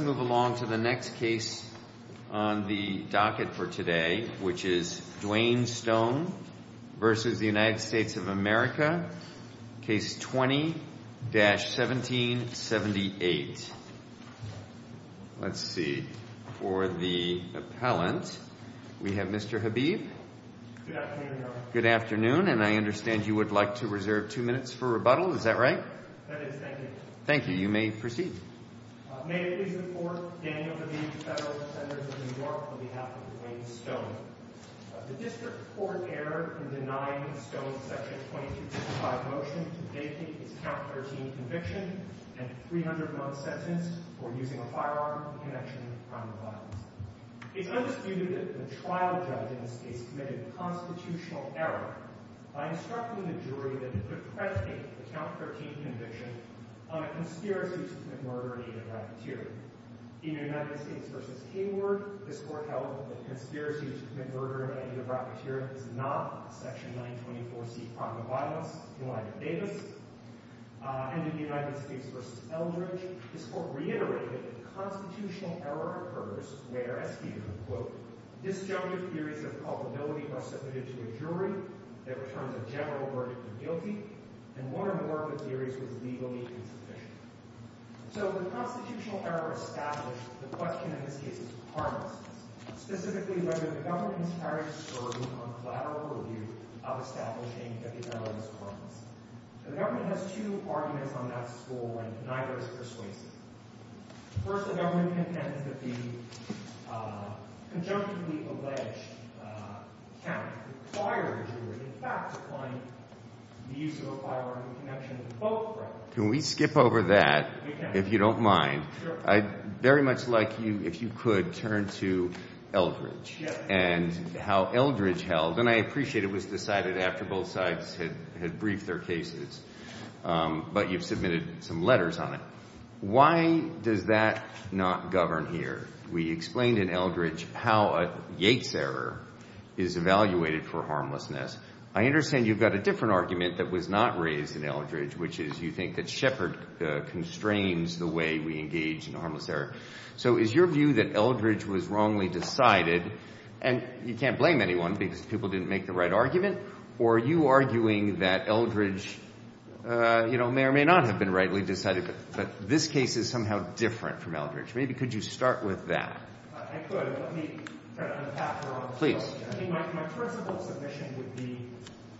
of America, Case 20-1778. May I please report, Daniel Habib, Federal Senators of New York, on behalf of Dwayne Stone. The District Court erred in denying Stone's Section 2265 motion to vacate his Count 13 conviction and 300-month sentence for using a firearm in connection with a crime of violence. It's undisputed that the trial judge in this case committed a constitutional error by instructing the jury that he could predicate the Count 13 conviction on a conspiracy to commit murder in the name of rapid terror. In United States v. Hayward, this Court held that the conspiracy to commit murder in the name of rapid terror is not Section 924C, a crime of violence, in light of Davis. And in United States v. Eldridge, this Court reiterated that the constitutional error occurs where, as he put it, disjunctive theories of culpability are submitted to a jury that returns a general verdict of guilty and one or more of the theories was legally insufficient. So the constitutional error established the question, in this case, of harmlessness, specifically whether the government is charged with serving on collateral review of establishing epidemiological evidence. The government has two arguments on that score, and neither is persuasive. First, the government contends that the conjunctively alleged Count required the jury, in fact, to find the use of a firearm in connection with both crimes. Can we skip over that, if you don't mind? Sure. I'd very much like you, if you could, turn to Eldridge and how Eldridge held, and I appreciate it was decided after both sides had briefed their cases, but you've submitted some letters on it. Why does that not govern here? We explained in Eldridge how a Yates error is evaluated for harmlessness. I understand you've got a different argument that was not raised in Eldridge, which is you think that Shepard constrains the way we engage in harmless error. So is your view that Eldridge was wrongly decided, and you can't blame anyone because people didn't make the right argument, or are you arguing that Eldridge may or may not have been rightly decided, but this case is somehow different from Eldridge? Maybe could you start with that? I could. My principle submission would be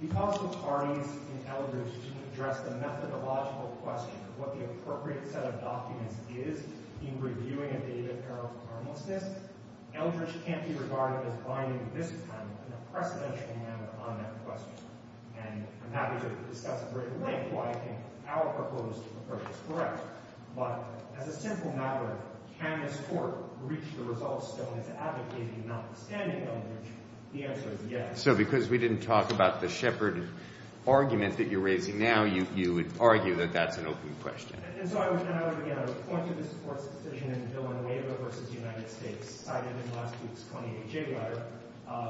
because both parties in Eldridge didn't address the methodological question of what the appropriate set of documents is in reviewing a data error for harmlessness, Eldridge can't be regarded as binding this time in a precedential manner on that question, and I'm happy to discuss at great length why I think our proposed approach is correct. But as a simple matter, can this Court reach the results that Eldridge advocated, notwithstanding Eldridge? The answer is yes. So because we didn't talk about the Shepard argument that you're raising now, you would argue that that's an open question. And so I would point to this Court's decision in Villanueva v. United States, cited in last week's 28J letter,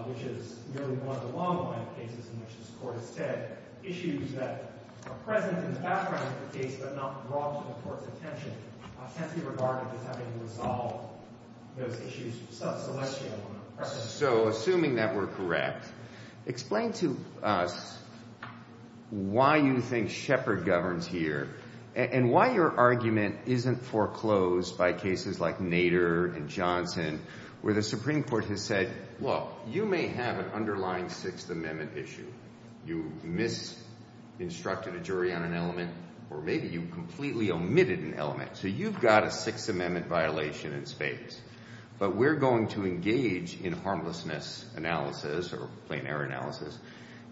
which is nearly one of the long-awaited cases in which this Court has said that issues that are present in the background of the case but not brought to the Court's attention can't be regarded as having resolved those issues sub celestial. So assuming that we're correct, explain to us why you think Shepard governs here and why your argument isn't foreclosed by cases like Nader and Johnson where the Supreme Court has said, look, you may have an underlying Sixth Amendment issue. You misinstructed a jury on an element or maybe you completely omitted an element. So you've got a Sixth Amendment violation in spades. But we're going to engage in harmlessness analysis or plain error analysis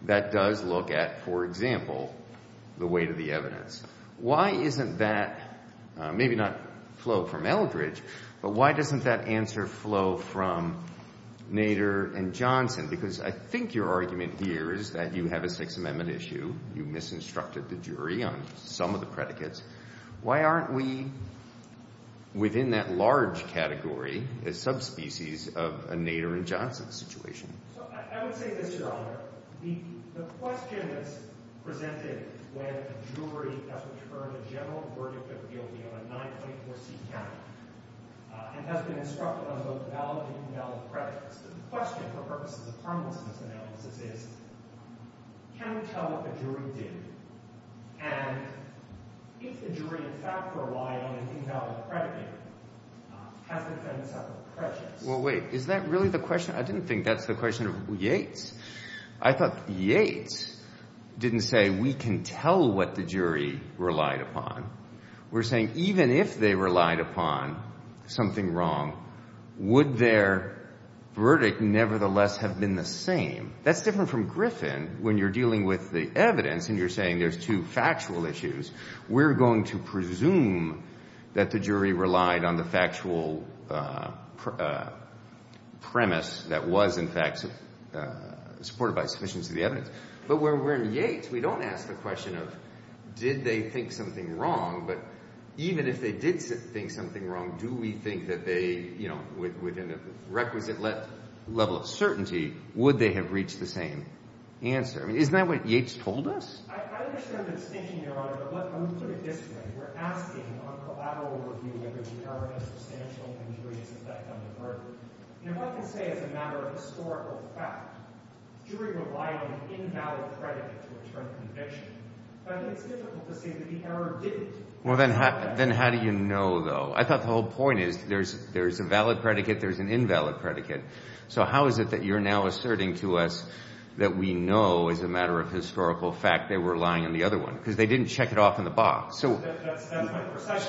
that does look at, for example, the weight of the evidence. Why isn't that, maybe not flow from Eldridge, but why doesn't that answer flow from Nader and Johnson? Because I think your argument here is that you have a Sixth Amendment issue. You misinstructed the jury on some of the predicates. Why aren't we within that large category, a subspecies of a Nader and Johnson situation? I would say this, Your Honor. The question that's presented when a jury has returned a general verdict of guilty on a 924C count and has been instructed on both valid and invalid predicates, the question for purposes of harmlessness analysis is, can we tell what the jury did? And if the jury in fact relied on an invalid predicate, has the defendant suffered prejudice? Well, wait. Is that really the question? I didn't think that's the question of Yates. I thought Yates didn't say, we can tell what the jury relied upon. We're saying even if they relied upon something wrong, would their verdict nevertheless have been the same? That's different from Griffin when you're dealing with the evidence and you're saying there's two factual issues. We're going to presume that the jury relied on the factual premise that was in fact supported by sufficiency of the evidence. But when we're in Yates, we don't ask the question of, did they think something wrong? But even if they did think something wrong, do we think that they, within a requisite level of certainty, would they have reached the same answer? Isn't that what Yates told us? I understand the distinction, Your Honor. But when we put it this way, we're asking on collateral review whether the error had substantial and serious effect on the verdict. And if I can say as a matter of historical fact, the jury relied on an invalid predicate to return the conviction, I think it's difficult to say that the error didn't. Well, then how do you know, though? I thought the whole point is there's a valid predicate, there's an invalid predicate. So how is it that you're now asserting to us that we know, as a matter of historical fact, they were relying on the other one? Because they didn't check it off in the box. So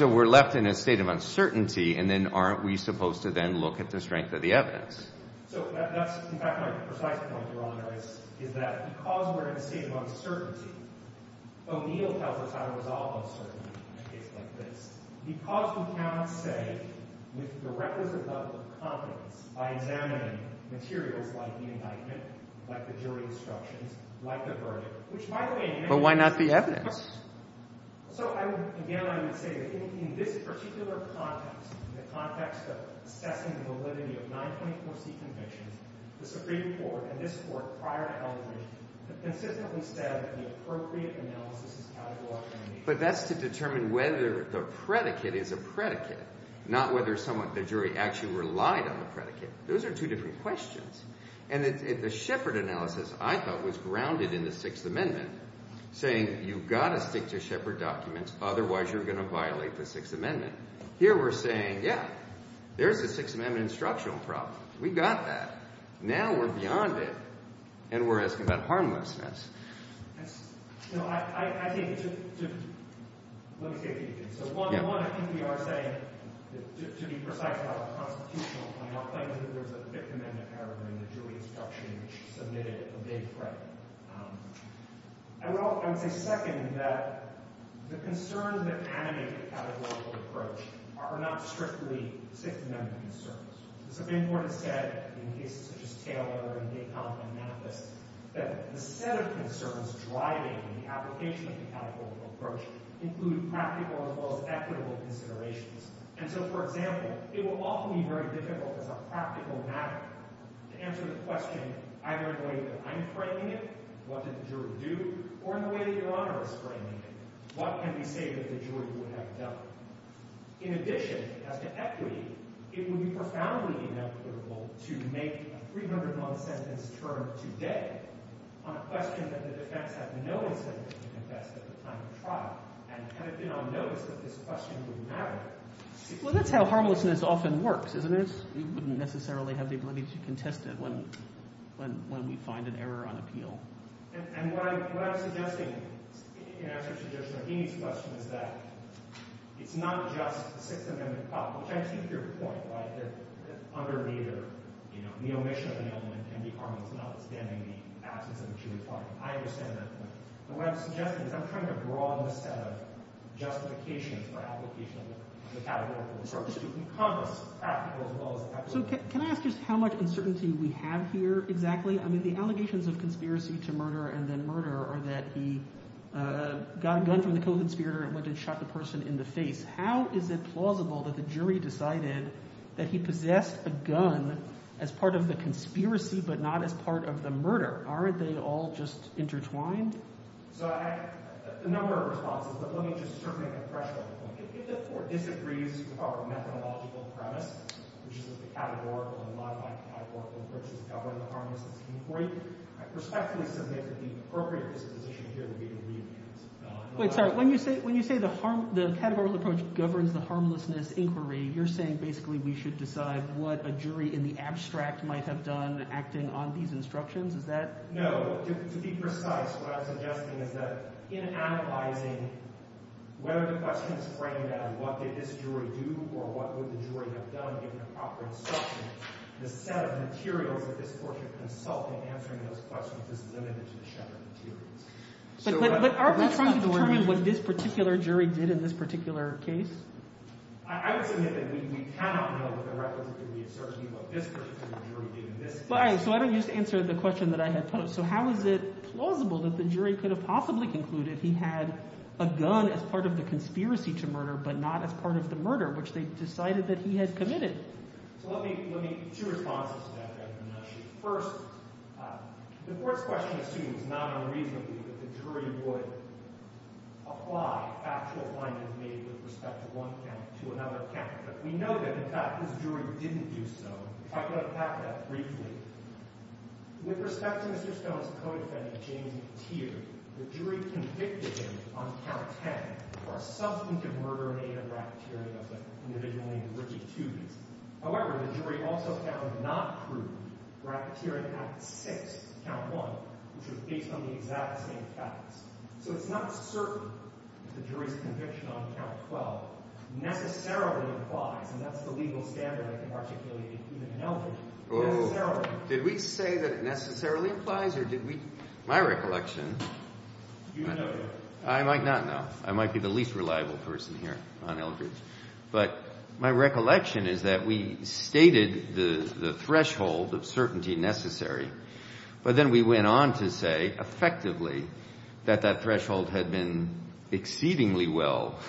we're left in a state of uncertainty, and then aren't we supposed to then look at the strength of the evidence? So that's, in fact, my precise point, Your Honor, is that because we're in a state of uncertainty, O'Neill tells us how to resolve uncertainty in a case like this. Because we cannot say with the requisite level of confidence by examining materials like the indictment, like the jury instructions, like the verdict, which, by the way, But why not the evidence? So again, I would say that in this particular context, the context of assessing the validity of 924C convictions, the Supreme Court and this Court prior to Eldridge have consistently said that the appropriate analysis is categorical. But that's to determine whether the predicate is a predicate, not whether the jury actually relied on the predicate. Those are two different questions. And the Shepard analysis, I thought, was grounded in the Sixth Amendment, saying you've got to stick to Shepard documents, otherwise you're going to violate the Sixth Amendment. Here we're saying, yeah, there's the Sixth Amendment instructional problem. We got that. Now we're beyond it, and we're asking about harmlessness. I think, let me say a few things. One, I think we are saying, to be precise about a constitutional point, our claim is that there's a Fifth Amendment paragraph in the jury instruction which submitted a big threat. I would say, second, that the concerns that animate the categorical approach are not strictly Sixth Amendment concerns. The Supreme Court has said, in cases such as Taylor and Dacon and Mathis, that the set of concerns driving the application of the categorical approach include practical as well as equitable considerations. And so, for example, it will often be very difficult as a practical matter to answer the question either in the way that I'm framing it, what did the jury do, or in the way that Your Honor is framing it, what can we say that the jury would have done? In addition, as to equity, it would be profoundly inequitable to make a 301-sentence term today on a question that the defense had no incentive to contest at the time of trial and had it been on notice that this question would matter. Well, that's how harmlessness often works, isn't it? We wouldn't necessarily have the ability to contest it when we find an error on appeal. And what I'm suggesting in answer to Judge Nagini's question is that it's not just the Sixth Amendment problem, which I see is your point, right, that underneath the omission of the element can be harmless notwithstanding the absence of a jury finding. I understand that point. What I'm suggesting is I'm trying to broaden the set of justifications for application of the categorical approach. Congress is practical as well as equitable. So can I ask just how much uncertainty we have here exactly? I mean the allegations of conspiracy to murder and then murder are that he got a gun from the co-conspirator and went and shot the person in the face. How is it plausible that the jury decided that he possessed a gun as part of the conspiracy but not as part of the murder? Aren't they all just intertwined? So I have a number of responses, but let me just sort of make a threshold point. If the court disagrees with our methodological premise, which is that the categorical and modified categorical approaches govern the harmlessness of inquiry, I respectfully submit that the appropriate disposition here would be to re-advance. Wait, sorry. When you say the categorical approach governs the harmlessness inquiry, you're saying basically we should decide what a jury in the abstract might have done acting on these instructions? Is that— No. To be precise, what I'm suggesting is that in analyzing whether the questions frame that what did this jury do or what would the jury have done given the proper instructions, the set of materials that this court should consult in answering those questions is limited to the shattered materials. But aren't we trying to determine what this particular jury did in this particular case? I would submit that we cannot know with the records that we have searched what this particular jury did in this case. So I don't just answer the question that I had posed. So how is it plausible that the jury could have possibly concluded he had a gun as part of the conspiracy to murder but not as part of the murder, which they decided that he had committed? So let me—two responses to that. First, the court's question assumes, not unreasonably, that the jury would apply actual findings made with respect to one count to another count. But we know that, in fact, this jury didn't do so. If I could unpack that briefly. With respect to Mr. Stone's co-defendant, James Teare, the jury convicted him on count 10 for a substantive murder in aid of bacteria of the individual named Ricky Toobies. However, the jury also found not true for bacteria in act 6, count 1, which was based on the exact same facts. So it's not certain that the jury's conviction on count 12 necessarily implies— and that's the legal standard I can articulate even in Eldridge—necessarily. Did we say that it necessarily implies or did we—my recollection— You know that. I might not know. I might be the least reliable person here on Eldridge. But my recollection is that we stated the threshold of certainty necessary, but then we went on to say, effectively, that that threshold had been exceedingly well,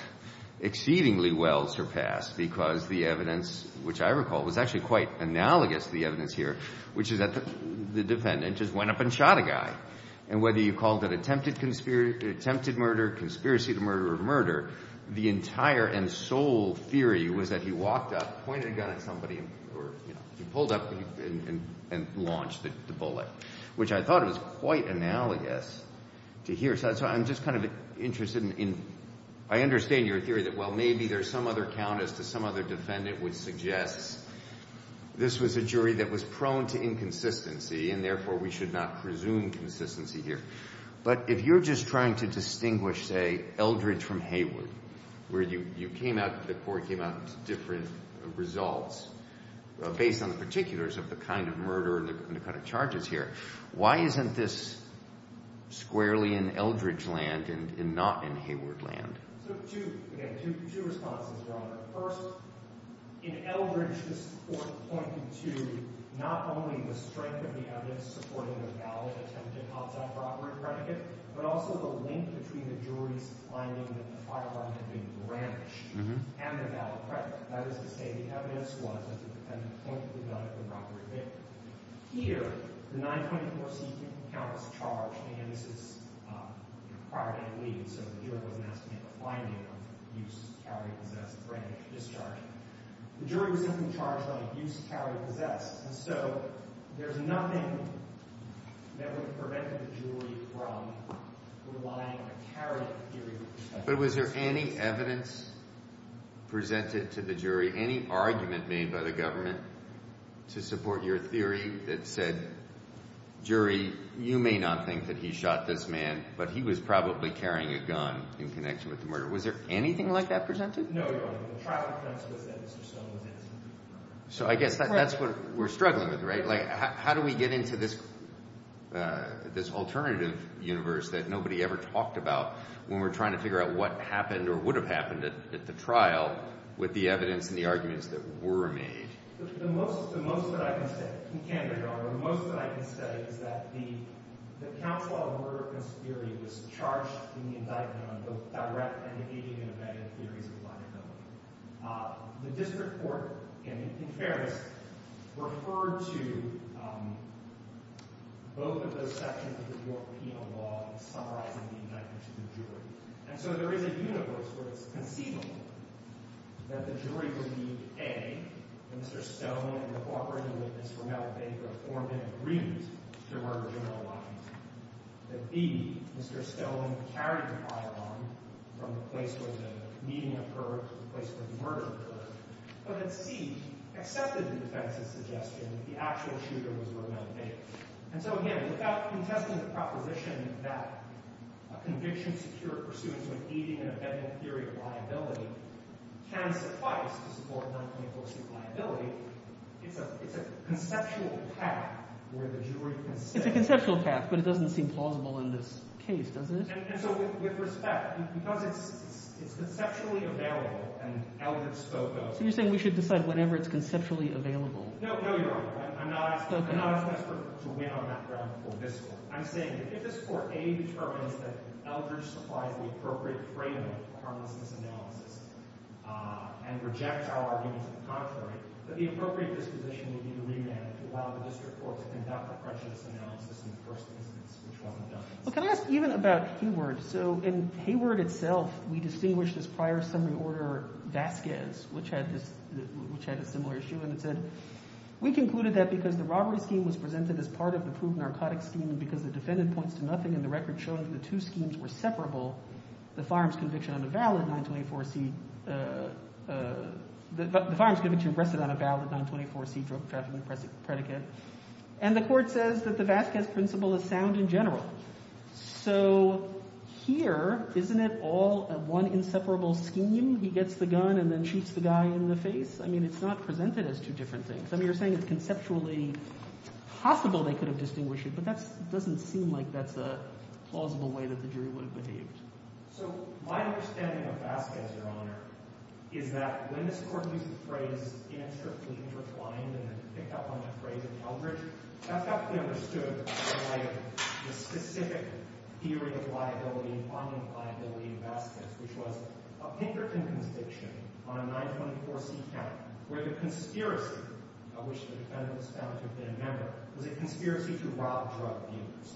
exceedingly well surpassed because the evidence, which I recall was actually quite analogous to the evidence here, which is that the defendant just went up and shot a guy. And whether you called it attempted murder, conspiracy to murder, or murder, the entire and sole theory was that he walked up, pointed a gun at somebody, or he pulled up and launched the bullet, which I thought was quite analogous to here. So I'm just kind of interested in—I understand your theory that, well, maybe there's some other count as to some other defendant which suggests this was a jury that was prone to inconsistency and therefore we should not presume consistency here. But if you're just trying to distinguish, say, Eldridge from Hayward, where you came out—the court came out with different results based on the particulars of the kind of murder and the kind of charges here, why isn't this squarely in Eldridge land and not in Hayward land? So two—again, two responses are on there. First, in Eldridge, this Court pointed to not only the strength of the evidence supporting a valid attempted homicide-robbery predicate, but also the link between the jury's finding that the firearm had been branched and the valid predicate. That is to say, the evidence was that the defendant pointed the gun at the robbery victim. Here, the 924C3 count was charged—and again, this is prior to it leaving, so the jury wasn't asked to make a finding of abuse, carry, possess, branch, discharge. The jury was simply charged on abuse, carry, possess. And so there's nothing that would have prevented the jury from relying on a carrying theory. But was there any evidence presented to the jury, any argument made by the government to support your theory that said, jury, you may not think that he shot this man, but he was probably carrying a gun in connection with the murder. Was there anything like that presented? No, Your Honor. The trial defense was that Mr. Stone was innocent. So I guess that's what we're struggling with, right? How do we get into this alternative universe that nobody ever talked about when we're trying to figure out what happened or would have happened at the trial with the evidence and the arguments that were made? The most that I can say—and you can, Your Honor—the most that I can say is that the Counsel on Murder and Conspiracy was charged in the indictment on both direct and engaging and evading theories of liability. The district court in Paris referred to both of those sections of the New York penal law in summarizing the indictment to the jury. And so there is a universe where it's conceivable that the jury believed A, that Mr. Stone, in cooperation with Ms. Romero-Baker, formed an agreement to murder General Washington, that B, Mr. Stone carried a firearm from the place where the meeting occurred to the place where the murder occurred, but that C, accepted the defense's suggestion that the actual shooter was Romero-Baker. And so, again, without contesting the proposition that a conviction secured pursuant to an evading and evading theory of liability can suffice to support non-claiming force of liability, it's a conceptual path where the jury can say— It doesn't seem plausible in this case, does it? And so with respect, because it's conceptually available and Eldridge spoke of— So you're saying we should decide whenever it's conceptually available. No, no, you're wrong. I'm not asking us to win on that ground before this court. I'm saying if this court, A, determines that Eldridge supplies the appropriate frame of a harmlessness analysis and rejects our argument to the contrary, that the appropriate disposition would be to remand it to allow the district court to conduct a prejudice analysis in the first instance, which wasn't done. Well, can I ask even about Hayward? So in Hayward itself, we distinguish this prior summary order Vasquez, which had a similar issue, and it said, We concluded that because the robbery scheme was presented as part of the proved narcotics scheme and because the defendant points to nothing in the record showing that the two schemes were separable, the firearms conviction rested on a valid 924c drug trafficking predicate. And the court says that the Vasquez principle is sound in general. So here, isn't it all one inseparable scheme? He gets the gun and then shoots the guy in the face? I mean, it's not presented as two different things. I mean, you're saying it's conceptually possible they could have distinguished it, but that doesn't seem like that's a plausible way that the jury would have behaved. So my understanding of Vasquez, Your Honor, is that when this court used the phrase, answer please, recline, and then picked up on that phrase in Eldridge, that's how we understood the specific theory of liability and finding liability in Vasquez, which was a Pinkerton conviction on a 924c count, where the conspiracy of which the defendant was found to have been a member was a conspiracy to rob drug dealers.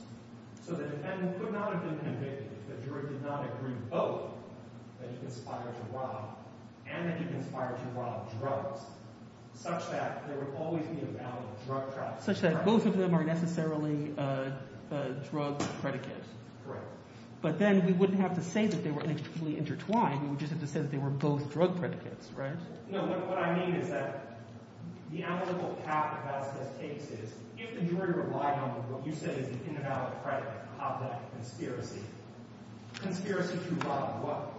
So the defendant would not have been convicted if the jury did not agree both that he conspired to rob and that he conspired to rob drugs, such that there would always be a valid drug trafficking predicate. Such that both of them are necessarily drug predicates. Correct. But then we wouldn't have to say that they were inextricably intertwined. We would just have to say that they were both drug predicates, right? No, what I mean is that the analytical path that Vasquez takes is if the jury relied on what you said is an invalid predicate to rob that conspiracy, conspiracy to rob what?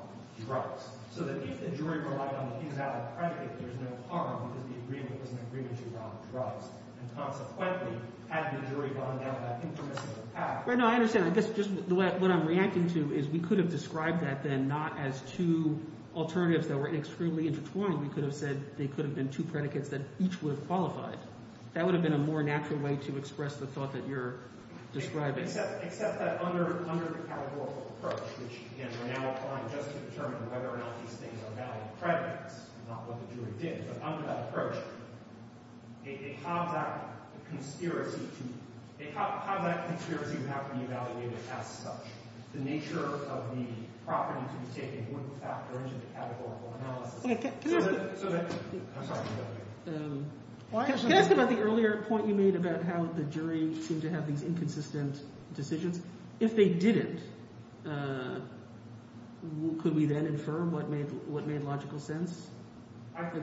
Drugs. So that if the jury relied on the invalid predicate, there's no harm because the agreement was an agreement to rob drugs. And consequently, had the jury gone down that impermissible path— No, I understand. I guess just what I'm reacting to is we could have described that then not as two alternatives that were inextricably intertwined. We could have said they could have been two predicates that each would have qualified. That would have been a more natural way to express the thought that you're describing. Except that under the categorical approach, which, again, we're now applying just to determine whether or not these things are valid predicates, not what the jury did. But under that approach, they have that conspiracy to— they have that conspiracy to have them evaluated as such. The nature of the property to be taken wouldn't factor into the categorical analysis. So that—I'm sorry. Can I ask about the earlier point you made about how the jury seemed to have these inconsistent decisions? If they didn't, could we then infer what made logical sense?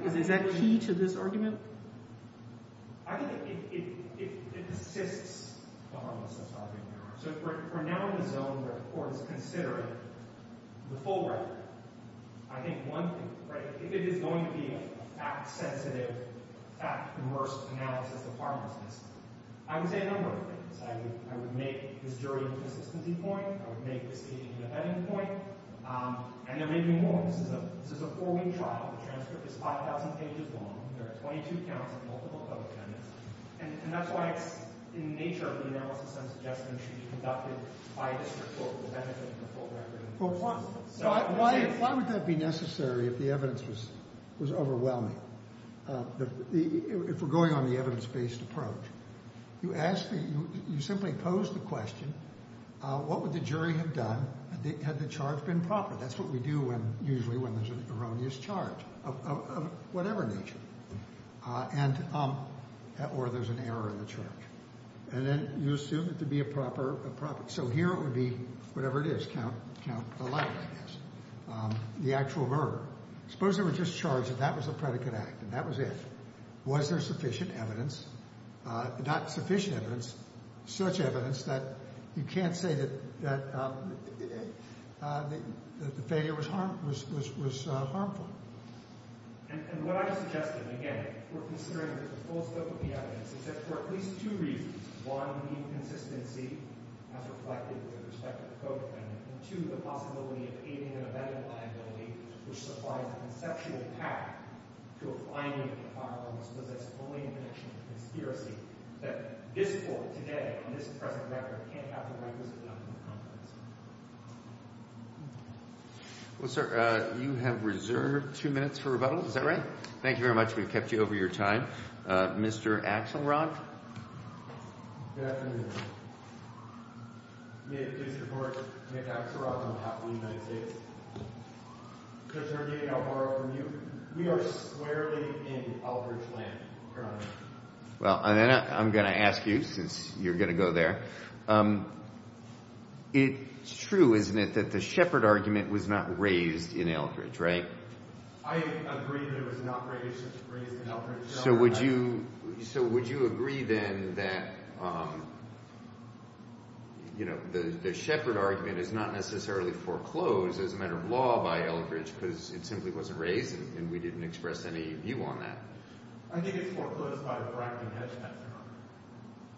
Is that key to this argument? I think it assists the harmlessness argument. So we're now in the zone where the court is considering the full record. I think one thing—right? If it is going to be a fact-sensitive, fact-immersed analysis of harmlessness, I would say a number of things. I would make this jury a consistency point. I would make this case an independent point. And there may be more. This is a four-week trial. The transcript is 5,000 pages long. There are 22 counts and multiple public amendments. And that's why it's—in the nature of the analysis, some suggestions should be conducted by a district court for the benefit of the full record. Why would that be necessary if the evidence was overwhelming? If we're going on the evidence-based approach, you simply pose the question, what would the jury have done had the charge been proper? That's what we do usually when there's an erroneous charge of whatever nature. And—or there's an error in the charge. And then you assume it to be a proper—so here it would be whatever it is. Count the life, I guess. The actual murder. Suppose they were just charged that that was a predicate act and that was it. Was there sufficient evidence—not sufficient evidence, such evidence that you can't say that the failure was harmful? And what I suggested, again, we're considering the full scope of the evidence, is that for at least two reasons. One, the inconsistency as reflected with respect to the Code Amendment. And two, the possibility of aiding and abetting liability, which supplies a conceptual path to a fine-week trial unless it's only in connection with a conspiracy that this court today, on this present record, can't have the requisite amount of confidence. Well, sir, you have reserved two minutes for rebuttal. Is that right? Thank you very much. We've kept you over your time. Mr. Axelrod? Good afternoon. May it please the Court, I'm Nick Axelrod on behalf of the United States. Judge Arnett, I'll borrow from you. We are squarely in Albridge land, Your Honor. Well, and then I'm going to ask you, since you're going to go there. It's true, isn't it, that the Shepard argument was not raised in Albridge, right? I agree that it was not raised in Albridge, Your Honor. So would you agree then that, you know, the Shepard argument is not necessarily foreclosed as a matter of law by Albridge because it simply wasn't raised and we didn't express any view on that? I think it's foreclosed by the Bracken-Hedge measure.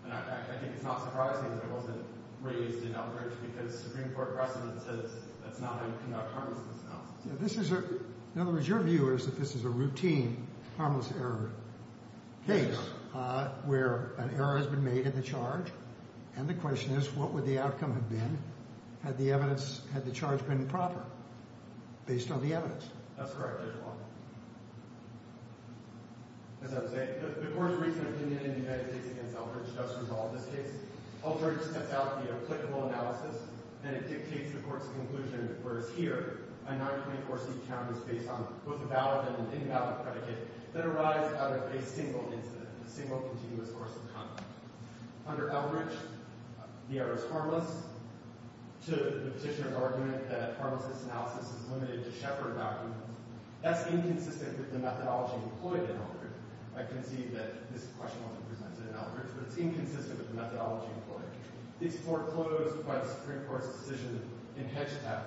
And I think it's not surprising that it wasn't raised in Albridge because Supreme Court precedent says that's not how you conduct harmlessness analysis. In other words, your view is that this is a routine harmless error case where an error has been made in the charge and the question is what would the outcome have been had the charge been proper based on the evidence? That's correct, Your Honor. As I was saying, the court's recent opinion in the United States against Albridge does resolve this case. Albridge steps out the applicable analysis and it dictates the court's conclusion whereas here, a 924C count is based on both a valid and an invalid predicate that arise out of a single incident, a single continuous course of conduct. Under Albridge, the error is harmless. To the petitioner's argument that harmlessness analysis is limited to Shepard documents, that's inconsistent with the methodology employed in Albridge. I concede that this question wasn't presented in Albridge but it's inconsistent with the methodology employed. It's foreclosed by the Supreme Court's decision in Hedgetown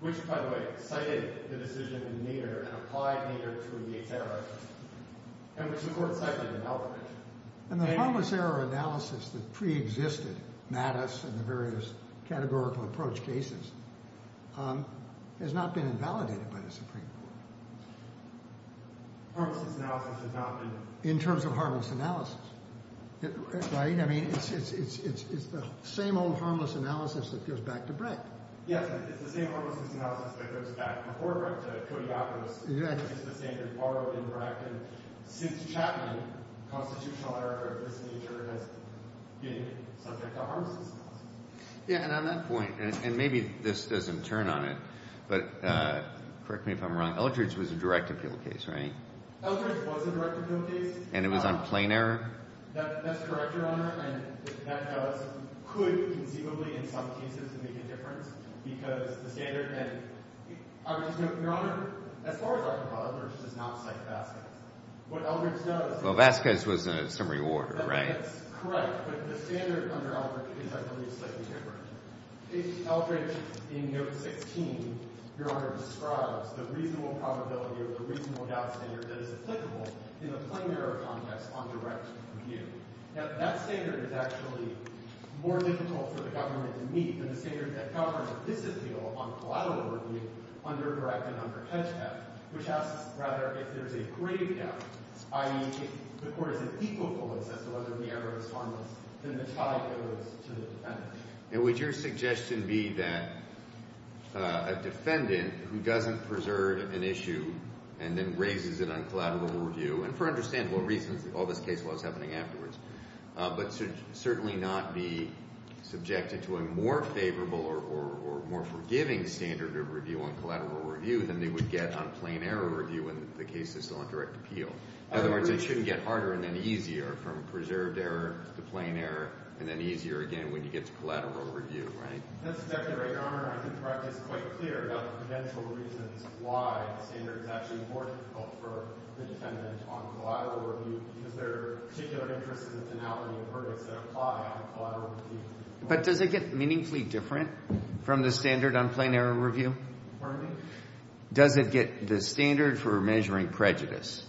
which, by the way, cited the decision in Nader and applied Nader to a Yates error and which the court cited in Albridge. And the harmless error analysis that preexisted Mattis and the various categorical approach cases has not been invalidated by the Supreme Court. Harmlessness analysis has not been. In terms of harmless analysis, right? I mean, it's the same old harmless analysis that goes back to Breck. Yes, it's the same harmless analysis that goes back before Breck to Kodiakos. Exactly. It's the same that's borrowed in Breck and since Chapman, constitutional error of this nature has been subject to harmlessness analysis. Yeah, and on that point, and maybe this doesn't turn on it, but correct me if I'm wrong, Albridge was a direct appeal case, right? Albridge was a direct appeal case. And it was on plain error? That's correct, Your Honor. And that does, could conceivably in some cases make a difference because the standard, and I would just note, Your Honor, as far as I'm concerned, Albridge does not cite Vasquez. What Albridge does… Well, Vasquez was a summary order, right? That's correct. But the standard under Albridge is actually slightly different. Albridge, in note 16, Your Honor, describes the reasonable probability or the reasonable doubt standard that is applicable in a plain error context on direct review. Now, that standard is actually more difficult for the government to meet than the standard that governments disappeal on collateral review under direct and under hedge cap, which asks rather if there's a grave doubt, i.e., if the court is impeccable as to whether the error is harmless, then the trial goes to the defendant. And would your suggestion be that a defendant who doesn't preserve an issue and then raises it on collateral review, and for understandable reasons, all this case law is happening afterwards, but should certainly not be subjected to a more favorable or more forgiving standard of review on collateral review than they would get on plain error review in the case of still on direct appeal? In other words, it shouldn't get harder and then easier from preserved error to plain error and then easier again when you get to collateral review, right? That's exactly right, Your Honor. I think the practice is quite clear about the potential reasons why the standard is actually more difficult for the defendant on collateral review because there are particular interests in the finality of verdicts that apply on collateral review. But does it get meaningfully different from the standard on plain error review? Pardon me? Does it get the standard for measuring prejudice?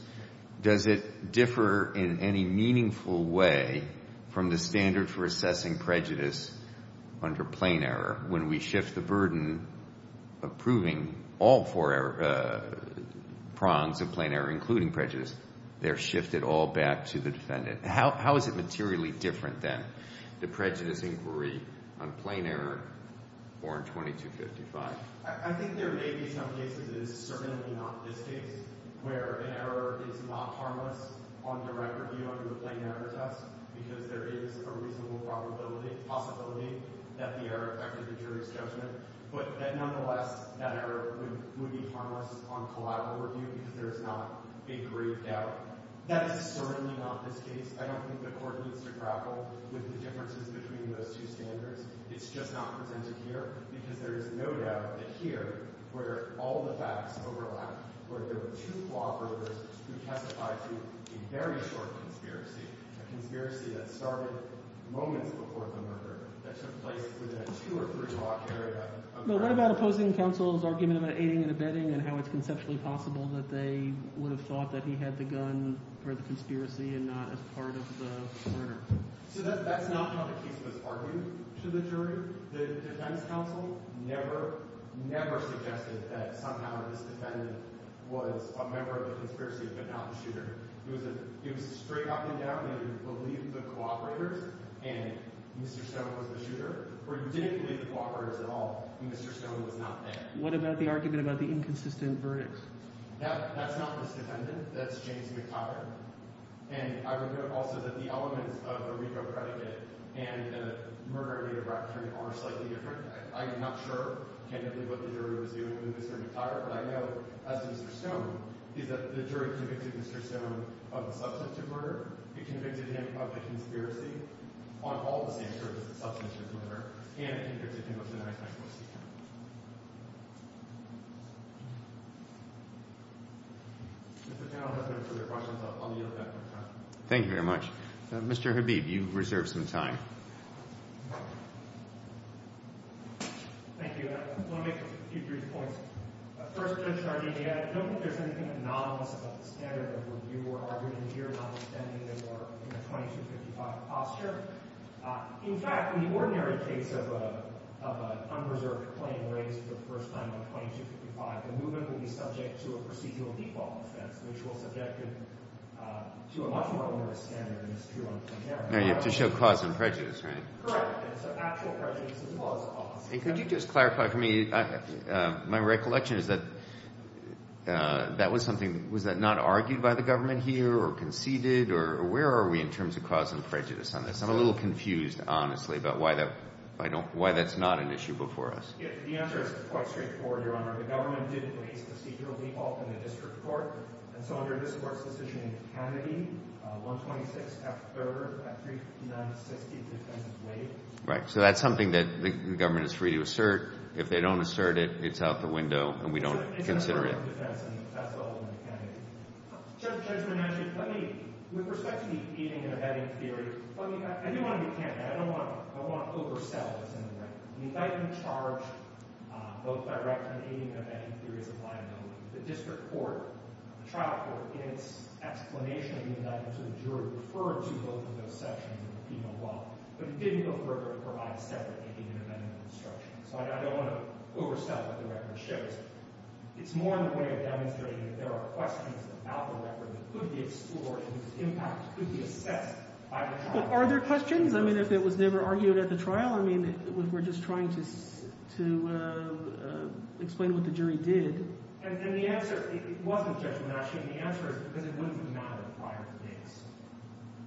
Does it differ in any meaningful way from the standard for assessing prejudice under plain error when we shift the burden of proving all four prongs of plain error, including prejudice? They're shifted all back to the defendant. How is it materially different then, the prejudice inquiry on plain error or in 2255? I think there may be some cases, and it's certainly not this case, where an error is not harmless on direct review under the plain error test because there is a reasonable probability, possibility, that the error affected the jury's judgment. But nonetheless, that error would be harmless on collateral review because there is not a grave doubt. That is certainly not this case. I don't think the court needs to grapple with the differences between those two standards. It's just not presented here because there is no doubt that here, where all the facts overlap, where there were two clawed murderers who testified to a very short conspiracy, a conspiracy that started moments before the murder, that took place within a two or three block area of the murder. But what about opposing counsel's argument about aiding and abetting and how it's conceptually possible that they would have thought that he had the gun for the conspiracy and not as part of the murder? So that's not how the case was argued to the jury. The defense counsel never, never suggested that somehow this defendant was a member of the conspiracy but not the shooter. It was a straight up and down, that he believed the cooperators and Mr. Stone was the shooter, or he didn't believe the cooperators at all and Mr. Stone was not there. What about the argument about the inconsistent verdict? That's not this defendant. That's James McTighe. And I would note also that the elements of a RICO predicate and the murder in Native Rappaport are slightly different. I'm not sure, candidly, what the jury was doing with Mr. McTighe, but I know, as to Mr. Stone, is that the jury convicted Mr. Stone of the substance of murder, it convicted him of the conspiracy, on all the same terms as the substance of his murder, and it convicted him of the knife-knife post-mortem. Thank you very much. Mr. Habib, you've reserved some time. Thank you. I want to make a few brief points. First, Judge Sardegna, I don't think there's anything anomalous about the standard of review or argument here notwithstanding that we're in a 2255 posture. I don't think there's anything anomalous about the standard of review or claim raised for the first time on 2255. The movement will be subject to a procedural default offense, which will subject it to a much more rigorous standard than is true on camera. Now you have to show cause and prejudice, right? Correct. And so actual prejudice is clause of cause. And could you just clarify for me, my recollection was that that was something, was that not argued by the government here or conceded? Or where are we in terms of cause and prejudice on this? I'm a little confused, honestly, about why that's not an issue before us. The answer is quite straightforward, Your Honor. The government didn't raise a procedural default in the district court. And so under this Court's decision in Kennedy, 126 F. 3rd at 359-60, the defense is waived. Right. So that's something that the government is free to assert. If they don't assert it, it's out the window, and we don't consider it. It's a federal defense, and that's all in the Kennedy. Judge Bernanke, let me, with respect to the eating and abetting theory, let me, I do want to be candid. I don't want to oversell this in a way. The indictment charged both direct and eating and abetting theories of liability. The district court, the trial court, in its explanation of the indictment to the jury, referred to both of those sections in the penal law. But it didn't go further to provide a separate eating and abetting instruction. So I don't want to oversell what the record shows. It's more in a way of demonstrating that there are questions about the record that could be explored and whose impact could be assessed by the trial. Are there questions? I mean, if it was never argued at the trial, I mean, we're just trying to explain what the jury did. And the answer—it wasn't judgment, actually. The answer is because it wouldn't have mattered prior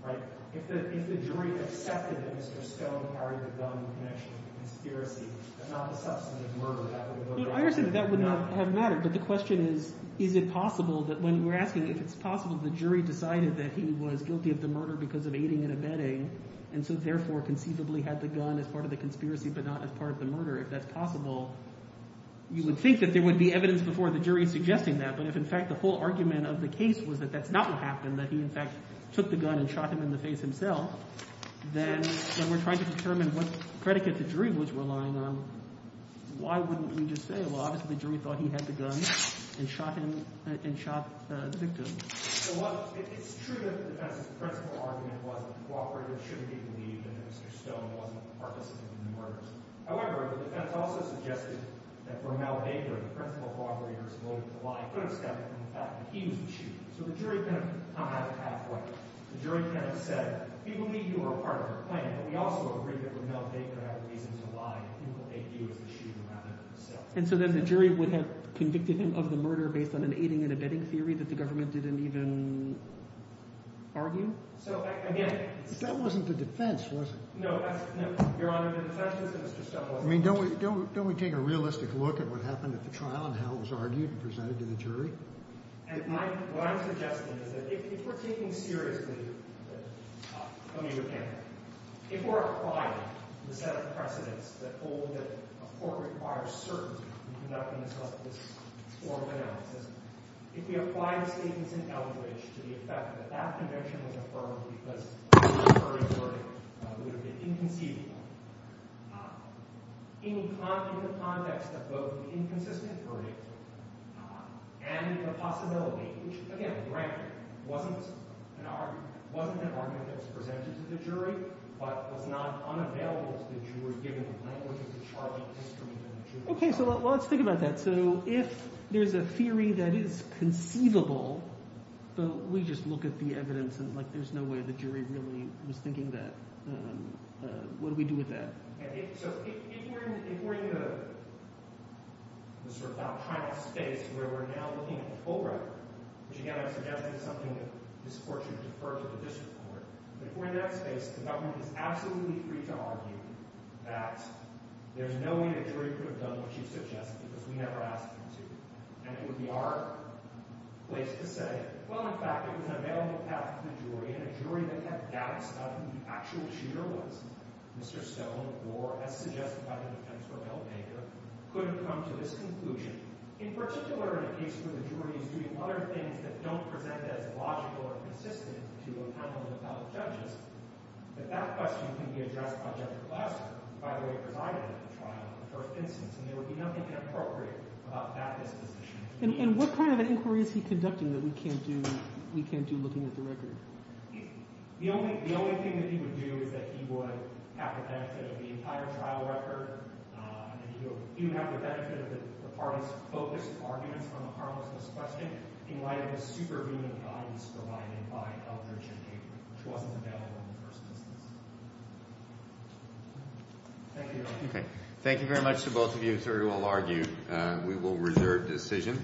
to this. If the jury accepted that Mr. Stone carried the gun in connection with the conspiracy, if not the substantive murder, that would have— I understand that that wouldn't have mattered, but the question is, is it possible that when we're asking if it's possible the jury decided that he was guilty of the murder because of eating and abetting and so therefore conceivably had the gun as part of the conspiracy but not as part of the murder, if that's possible, you would think that there would be evidence before the jury suggesting that. But if, in fact, the whole argument of the case was that that's not what happened, that he, in fact, took the gun and shot him in the face himself, then when we're trying to determine what predicate the jury was relying on, why wouldn't we just say, well, obviously the jury thought he had the gun and shot him and shot the victim? Well, it's true that the defense's principal argument was that the cooperator shouldn't be believed and that Mr. Stone wasn't participating in the murders. However, the defense also suggested that Rommel Baker, the principal cooperator, is liable to lie and put a stop to the fact that he was the shooter. So the jury kind of has a pathway. The jury kind of said, we believe you were part of the plan, but we also agree that Rommel Baker had a reason to lie and think that he was the shooter rather than himself. And so then the jury would have convicted him of the murder based on an aiding and abetting theory that the government didn't even argue. So, again— But that wasn't the defense, was it? No, Your Honor, the defense was that Mr. Stone wasn't— I mean, don't we take a realistic look at what happened at the trial and how it was argued and presented to the jury? And what I'm suggesting is that if we're taking seriously communique, if we're applying the set of precedents that hold that a court requires certainty in conducting this formal analysis, if we apply the statements in Eldridge to the effect that that convention was affirmed because the verdict would have been inconceivable, in the context of both the inconsistent verdict and the possibility, which, again, granted, wasn't an argument that was presented to the jury, but was not unavailable to the jury given the language of the charging history of the jury. Okay, so let's think about that. So if there's a theory that is conceivable, but we just look at the evidence and, like, there's no way the jury really was thinking that, what do we do with that? So if we're in the sort of alpine space where we're now looking at the full record, which, again, I'm suggesting is something that this court should defer to the district court, if we're in that space, the government is absolutely free to argue that there's no way the jury could have done what she suggested because we never asked them to. And it would be our place to say, well, in fact, it was an available path to the jury, and a jury that had doubts about who the actual shooter was, Mr. Stone, or, as suggested by the defense for Mel Baker, could have come to this conclusion. In particular, in a case where the jury is doing other things that don't present as logical or consistent to a panel of appellate judges, that that question can be addressed by Judge Glasser, who, by the way, presided over the trial in the first instance, and there would be nothing inappropriate about that disposition. And what kind of an inquiry is he conducting that we can't do looking at the record? The only thing that he would do is that he would have the benefit of the entire trial record, and he would have the benefit of the parties' focused arguments on the harmlessness question, in light of the superhuman values provided by Elbridge and Baker, which wasn't available in the first instance. Thank you. Okay. Thank you very much to both of you. As everyone will argue, we will reserve decision.